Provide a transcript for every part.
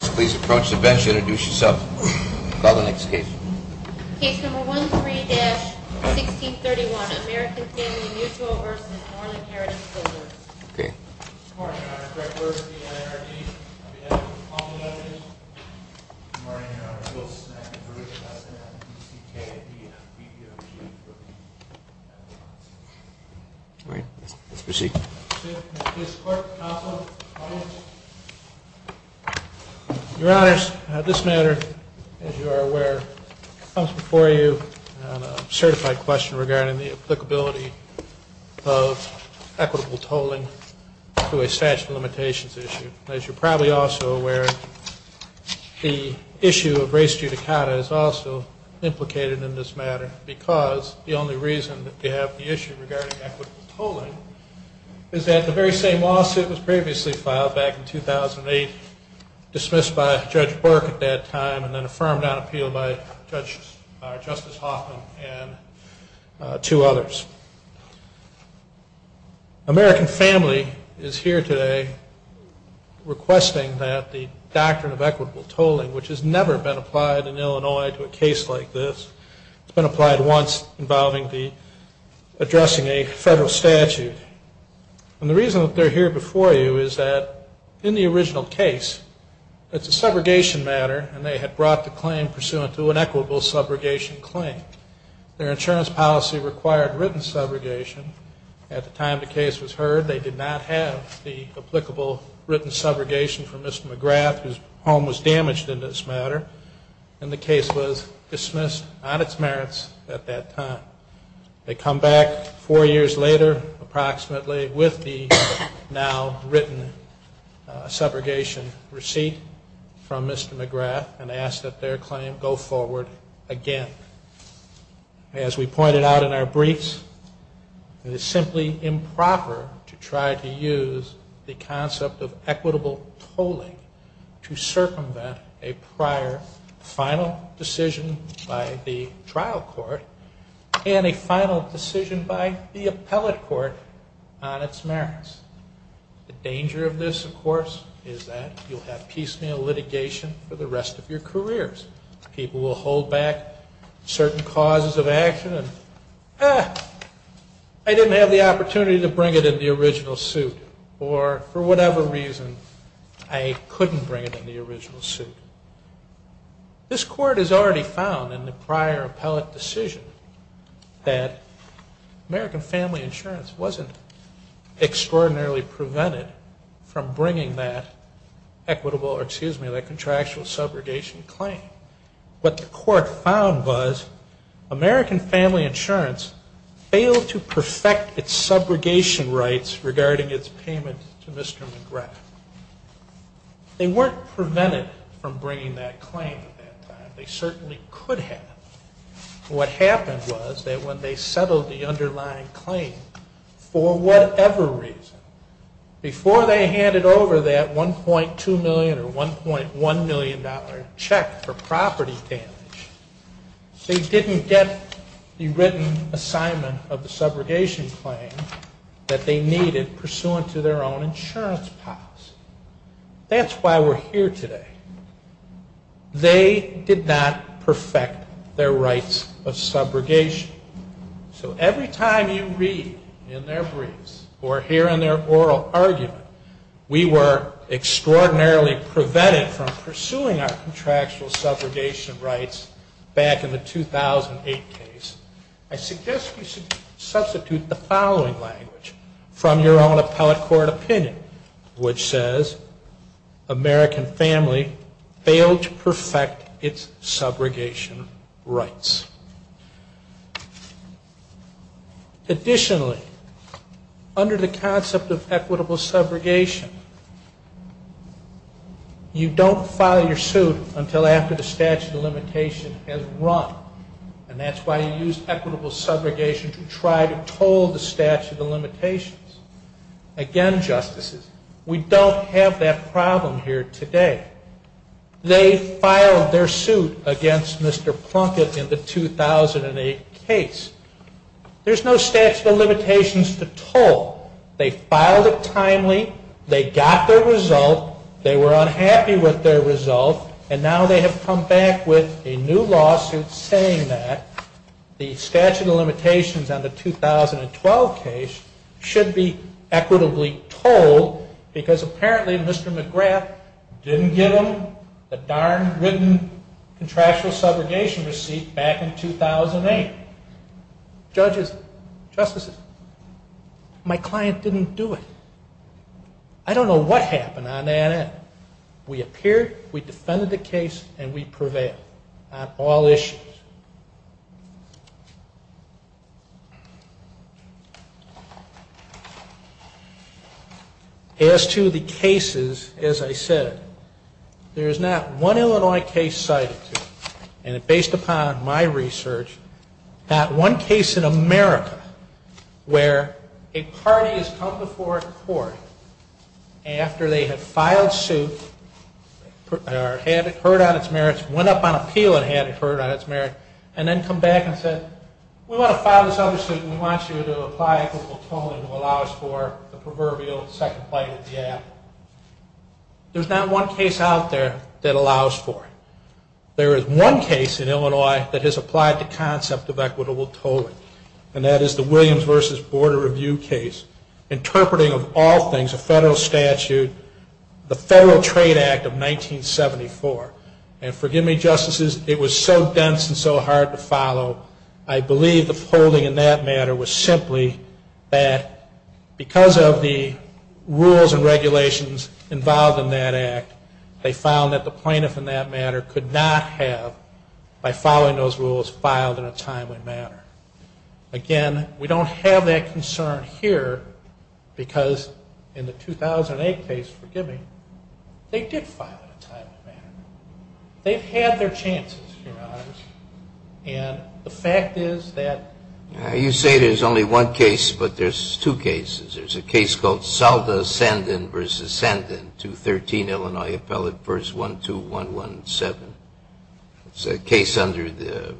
Please approach the bench and introduce yourself. Call the next case. Case number 13-1631, American Family Mutual v. Northern Heritage Builders. Good morning, Your Honor. Greg Berg, the N.R.D. I'll be heading with the following evidence. Good morning, Your Honor. Willis McIntrye, the S.N.M.D. C.K.A.D. B.P.O.B. All right, let's proceed. Your Honor, this matter, as you are aware, comes before you on a certified question regarding the applicability of equitable tolling to a statute of limitations issue. As you're probably also aware, the issue of race judicata is also implicated in this matter because the only reason that we have the issue regarding equitable tolling is that the very same lawsuit was previously filed back in 2008, dismissed by Judge Burke at that time and then affirmed on appeal by Justice Hoffman and two others. American Family is here today requesting that the doctrine of equitable tolling, which has never been applied in Illinois to a case like this, it's been applied once involving addressing a federal statute. And the reason that they're here before you is that in the original case, it's a segregation matter and they had brought the claim pursuant to an equitable subrogation claim. Their insurance policy required written subrogation. At the time the case was heard, they did not have the applicable written subrogation from Mr. McGrath, whose home was damaged in this matter, and the case was dismissed on its merits at that time. They come back four years later approximately with the now written subrogation receipt from Mr. McGrath and ask that their claim go forward again. As we pointed out in our briefs, it is simply improper to try to use the concept of equitable tolling to circumvent a prior final decision by the trial court and a final decision by the appellate court on its merits. The danger of this, of course, is that you'll have piecemeal litigation for the rest of your careers. People will hold back certain causes of action and, ah, I didn't have the opportunity to bring it in the original suit or for whatever reason I couldn't bring it in the original suit. This court has already found in the prior appellate decision that American Family Insurance wasn't extraordinarily prevented from bringing that equitable or, excuse me, that contractual subrogation claim. What the court found was American Family Insurance failed to perfect its subrogation rights regarding its payment to Mr. McGrath. They weren't prevented from bringing that claim at that time. They certainly could have. What happened was that when they settled the underlying claim, for whatever reason, before they handed over that $1.2 million or $1.1 million check for property damage, they didn't get the written assignment of the subrogation claim that they needed pursuant to their own insurance policy. That's why we're here today. They did not perfect their rights of subrogation. So every time you read in their briefs or hear in their oral argument we were extraordinarily prevented from pursuing our contractual subrogation rights back in the 2008 case, I suggest we substitute the following language from your own appellate court opinion, which says American Family failed to perfect its subrogation rights. Additionally, under the concept of equitable subrogation, you don't file your suit until after the statute of limitations has run. And that's why you use equitable subrogation to try to toll the statute of limitations. Again, Justices, we don't have that problem here today. They filed their suit against Mr. Plunkett in the 2008 case. There's no statute of limitations to toll. They filed it timely. They got their result. They were unhappy with their result. And now they have come back with a new lawsuit saying that the statute of limitations on the 2012 case should be equitably tolled because apparently Mr. McGrath didn't give them the darn written contractual subrogation receipt back in 2008. Judges, Justices, my client didn't do it. I don't know what There's not one Illinois case cited, and based upon my research, not one case in America where a party has come before a court after they had filed suit or had it There's not one case out there that allows for it. There is one case in Illinois that has applied the concept of equitable tolling, and that is the Williams v. Board of Review case, interpreting of all things a federal statute, the Federal Trade Act of 1974. And forgive me, Justices, it was so dense and so hard to follow, I believe the polling in that matter was simply that because of the rules and regulations involved in that act, they found that the plaintiff in that matter could not have, by following those rules, filed in a timely manner. Again, we don't have that concern here because in the 2008 case, they did file in a timely manner. They've had their chances, Your Honors, and the fact is that You say there's only one case, but there's two cases. There's a case called Salda-Sandin v. Sandin, 213 Illinois Appellate v. 12117. It's a case under the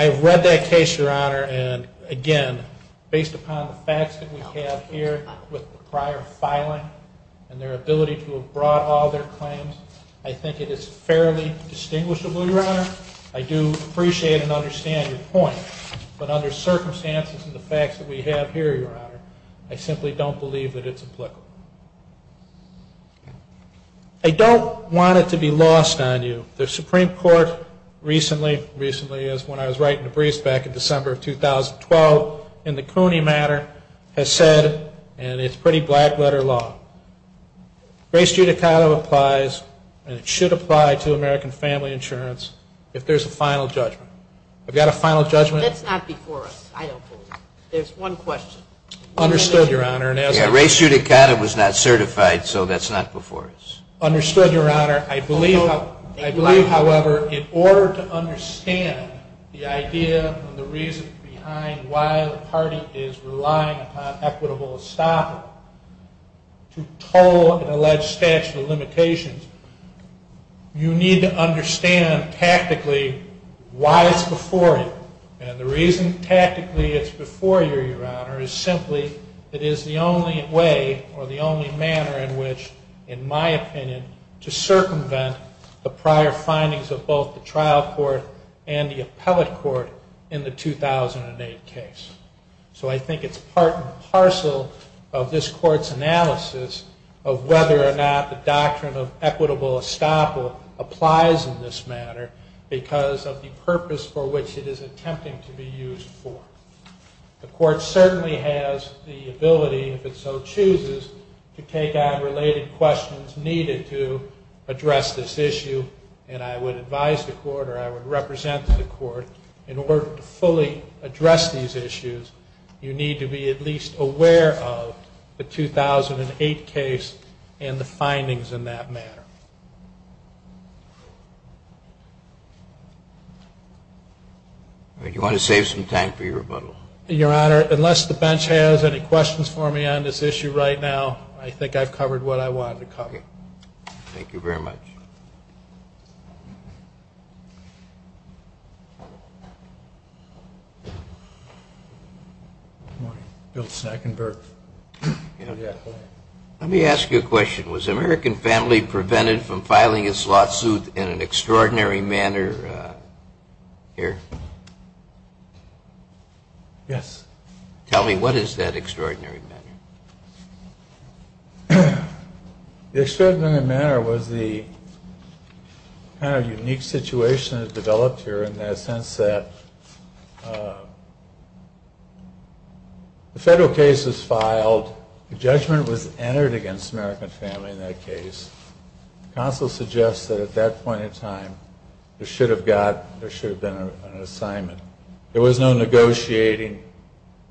I've read that case, Your Honor, and again, based upon the facts that we have here with the prior filing and their ability to have brought all their claims, I think it is fairly distinguishable, Your Honor. I do appreciate and understand your point, but under circumstances and the facts that we have here, Your Honor, I simply don't believe that it's applicable. I don't want it to be lost on you. The Supreme Court recently, recently is, when I was writing the briefs back in December of 2012 in the Cooney matter, has said, and it's pretty black-letter law, race judicata applies and it should apply to American family insurance if there's a final judgment. I've got a final judgment. That's not before us. I don't believe it. There's one question. Understood, Your Honor. Race judicata was not certified, so that's not before us. Understood, Your Honor. I believe, however, in order to understand the idea and the reason behind why the party is relying upon equitable estoppel to toll an alleged statute of And the reason, tactically, it's before you, Your Honor, is simply it is the only way or the only manner in which, in my opinion, to circumvent the prior findings of both the trial court and the appellate court in the 2008 case. So I think it's part and parcel of this Court's analysis of whether or not the doctrine of equitable estoppel applies in this matter because of the purpose for which it is attempting to be used for. The Court certainly has the ability, if it so chooses, to take on related questions needed to address this issue, and I would advise the Court or I would represent the Court in order to fully address these issues, you need to be at least aware of the 2008 case and the findings in that matter. Do you want to save some time for your rebuttal? Your Honor, unless the bench has any questions for me on this issue right now, I think I've covered what I wanted to cover. Thank you very much. Let me ask you a question. Was the American family prevented from filing a slot suit in an extraordinary manner here? Yes. Tell me, what is that extraordinary manner? The extraordinary manner was the kind of unique situation that developed here in the sense that the federal case was filed, the judgment was entered against the American family in that case. The counsel suggests that at that point in time, there should have been an assignment. There was no negotiating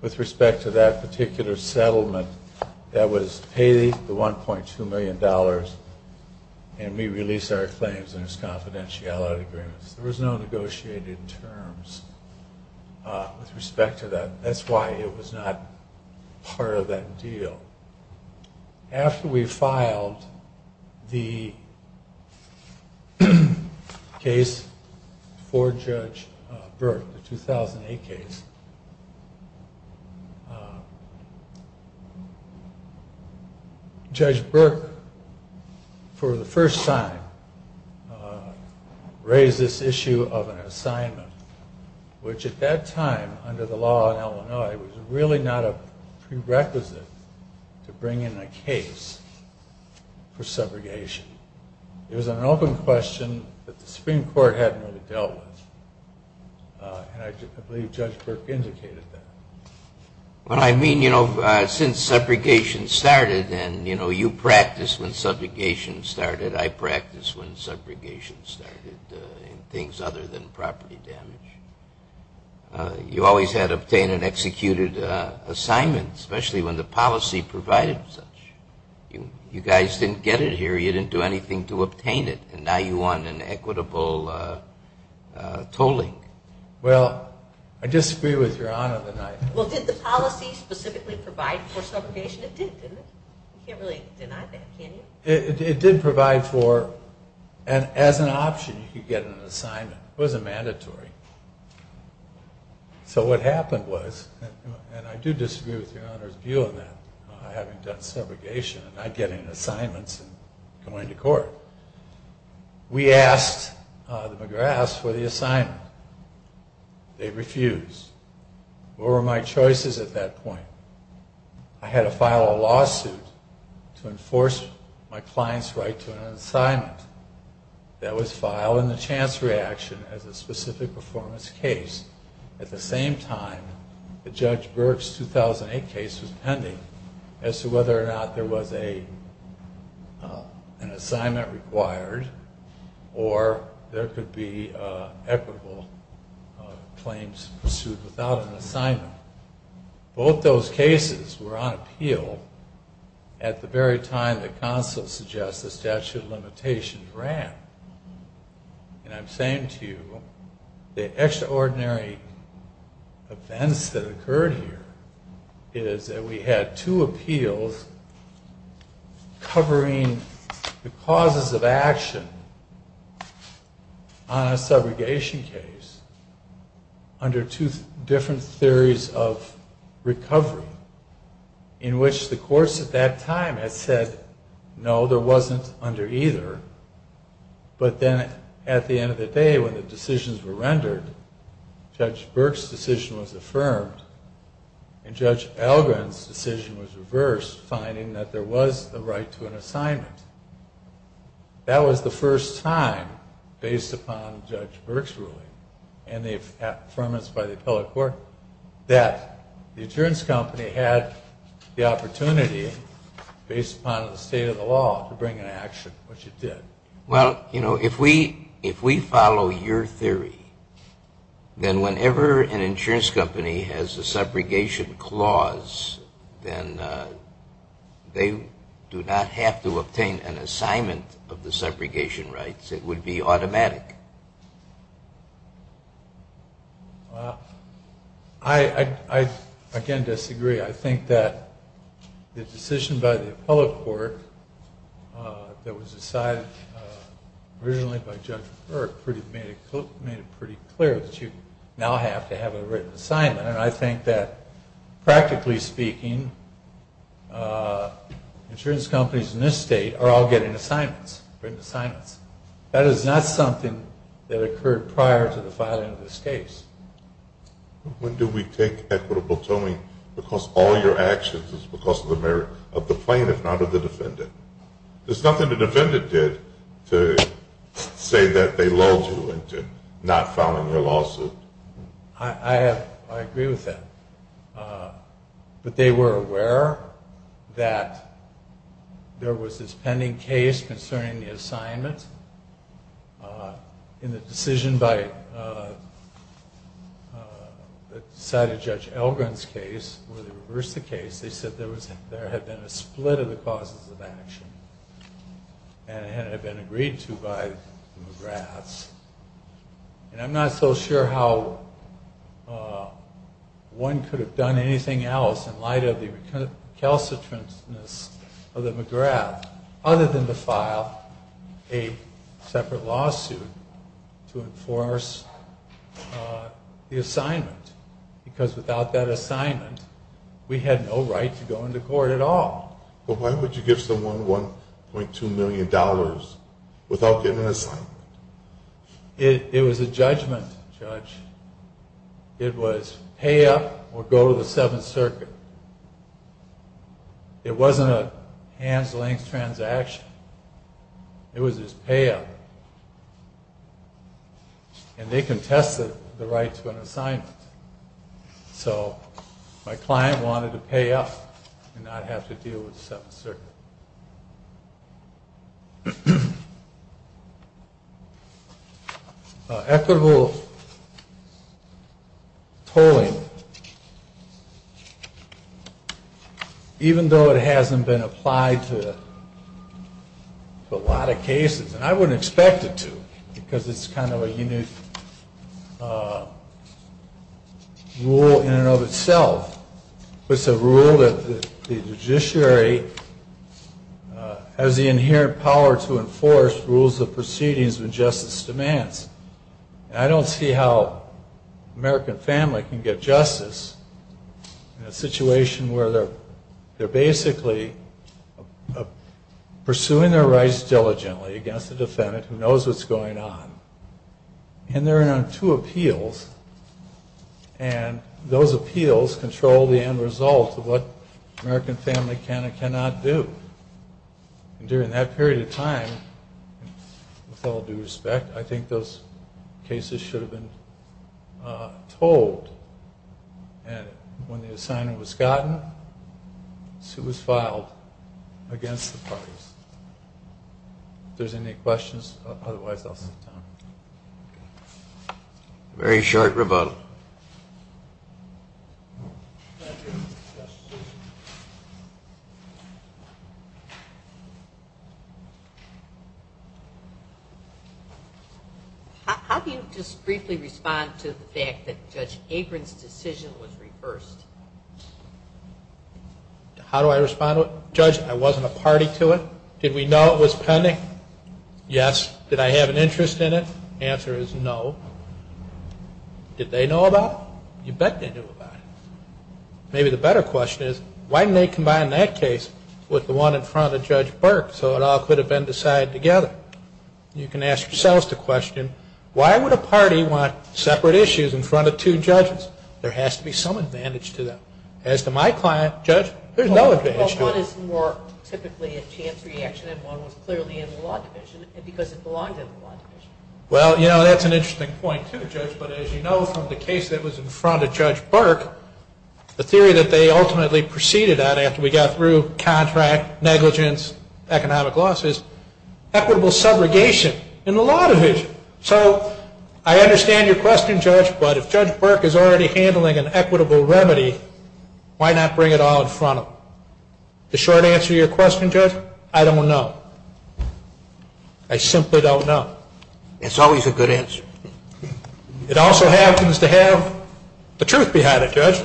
with respect to that particular settlement that was to pay the $1.2 million and we release our claims under confidentiality agreements. There was no negotiating terms with respect to that. That's why it was not part of that deal. After we filed the case for Judge Burke, the 2008 case, Judge Burke, for the first time, raised this issue of an assignment, which at that time, under the law in Illinois, was really not a prerequisite to bring in a case for subrogation. It was an open question that the Supreme Court hadn't really dealt with. And I believe Judge Burke indicated that. What I mean, you know, since subrogation started and, you know, you practiced when subrogation started, I practiced when subrogation started in things other than property damage. You always had to obtain an executed assignment, especially when the policy provided such. You guys didn't get it here, you didn't do anything to obtain it, and now you want an equitable tolling. Well, I disagree with Your Honor that I... Well, did the policy specifically provide for subrogation? It did, didn't it? You can't really deny that, can you? It did provide for, as an option, you could get an assignment. It wasn't mandatory. So what happened was, and I do disagree with Your Honor's view of that, having done subrogation and not getting assignments and going to court, we asked the McGraths for the assignment. They refused. What were my choices at that point? I had to file a lawsuit to enforce my client's right to an assignment. That was filed in the chance reaction as a specific performance case. At the same time, the Judge Burke's 2008 case was pending as to whether or not there was an assignment required or there could be equitable claims pursued without an assignment. Both those cases were on appeal at the very time the consulate suggests the statute of limitations ran. And I'm saying to you, the extraordinary events that occurred here is that we had two appeals covering the causes of action on a subrogation case under two different theories of recovery, in which the courts at that time had said, no, there wasn't under either. But then at the end of the day, when the decisions were rendered, Judge Burke's decision was affirmed and Judge Algren's decision was reversed, finding that there was a right to an assignment. That was the first time, based upon Judge Burke's ruling and the affirmance by the appellate court, that the insurance company had the opportunity, based upon the state of the law, to bring an action, which it did. Well, you know, if we follow your theory, then whenever an insurance company has a subrogation clause, then they do not have to obtain an assignment of the subrogation rights. It would be automatic. I, again, disagree. I think that the decision by the appellate court that was decided originally by Judge Burke made it pretty clear that you now have to have a written assignment. And I think that, practically speaking, insurance companies in this state are all getting written assignments. That is not something that occurred prior to the filing of this case. When do we take equitable tolling because all your actions is because of the merit of the plaintiff, not of the defendant? There's nothing the defendant did to say that they lulled you into not filing your lawsuit. I agree with that. But they were aware that there was this pending case concerning the assignment. In the decision by the side of Judge Elgin's case, where they reversed the case, they said there had been a split of the causes of action and it had been agreed to by the McGraths. And I'm not so sure how one could have done anything else in light of the recalcitrantness of the McGraths other than to file a separate lawsuit to enforce the assignment. Because without that assignment, we had no right to go into court at all. But why would you give someone $1.2 million without getting an assignment? It was a judgment, Judge. It was pay up or go to the Seventh Circuit. It wasn't a hands-length transaction. It was just pay up. And they contested the right to an assignment. So my client wanted to pay up and not have to deal with the Seventh Circuit. Equitable tolling, even though it hasn't been applied to a lot of cases, and I wouldn't expect it to because it's kind of a unique rule in and of itself. It's a rule that the judiciary has the inherent power to enforce rules of proceedings when justice demands. And I don't see how an American family can get justice in a situation where they're basically pursuing their rights diligently against a defendant who knows what's going on. And there are two appeals, and those appeals control the end result of what an American family can and cannot do. And during that period of time, with all due respect, I think those cases should have been told. And when the assignment was gotten, the suit was filed against the parties. If there's any questions, otherwise I'll sit down. Very short rebuttal. How do you just briefly respond to the fact that Judge Apron's decision was reversed? How do I respond to it? Judge, I wasn't a party to it. Did we know it was pending? Yes. Did I have an interest in it? The answer is no. Did they know about it? You bet they knew about it. Maybe the better question is, why didn't they combine that case with the one in front of Judge Burke so it all could have been decided together? You can ask yourselves the question, why would a party want separate issues in front of two judges? There has to be some advantage to them. As to my client, Judge, there's no advantage to them. Well, one is more typically a chance reaction and one was clearly in the law division because it belongs in the law division. Well, you know, that's an interesting point too, Judge, but as you know from the case that was in front of Judge Burke, the theory that they ultimately proceeded on after we got through contract, negligence, economic losses, equitable subrogation in the law division. So I understand your question, Judge, but if Judge Burke is already handling an equitable remedy, why not bring it all in front of him? The short answer to your question, Judge, I don't know. I simply don't know. It's always a good answer. It also happens to have the truth behind it, Judge.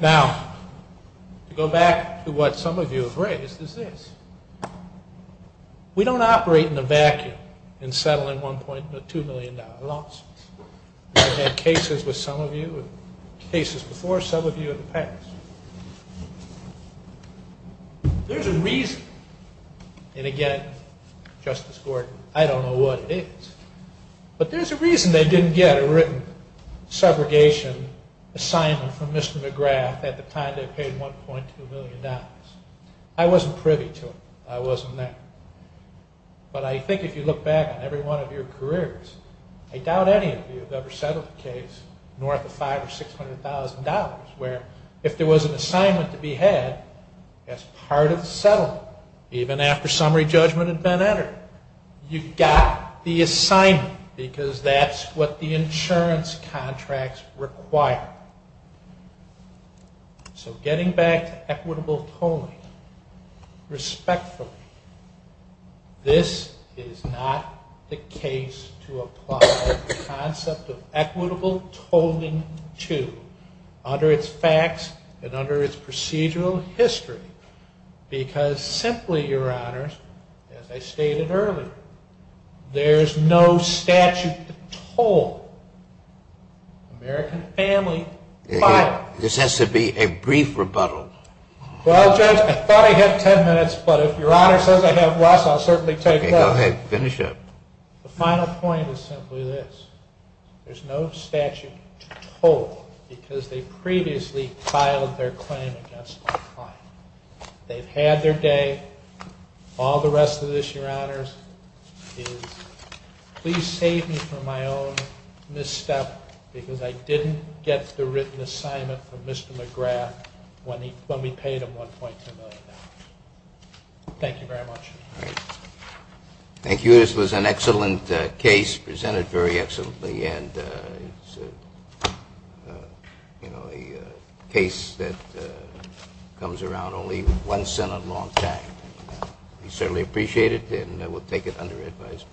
Now, to go back to what some of you have raised is this. We don't operate in a vacuum in settling $1.2 million losses. We've had cases with some of you and cases before some of you in the past. There's a reason, and again, Justice Gordon, I don't know what it is, but there's a reason they didn't get a written subrogation assignment from Mr. McGrath at the time they paid $1.2 million. I wasn't privy to it. I wasn't there. But I think if you look back on every one of your careers, I doubt any of you have ever settled a case north of $500,000 or $600,000 where if there was an assignment to be had as part of the settlement, even after summary judgment had been entered, you got the assignment because that's what the insurance contracts require. So getting back to equitable tolling, respectfully, this is not the case to apply the concept of equitable tolling to under its facts and under its procedural history because simply, Your Honors, as I stated earlier, there's no statute to toll. American family file. This has to be a brief rebuttal. Well, Judge, I thought I had ten minutes, but if Your Honor says I have less, I'll certainly take less. Go ahead. Finish up. The final point is simply this. There's no statute to toll because they previously filed their claim against my client. They've had their day. All the rest of this, Your Honors, is please save me from my own misstep because I didn't get the written assignment from Mr. McGrath when we paid him $1.2 million. Thank you very much. Thank you. This was an excellent case presented very excellently and it's a case that comes around only once in a long time. We certainly appreciate it and we'll take it under advisement.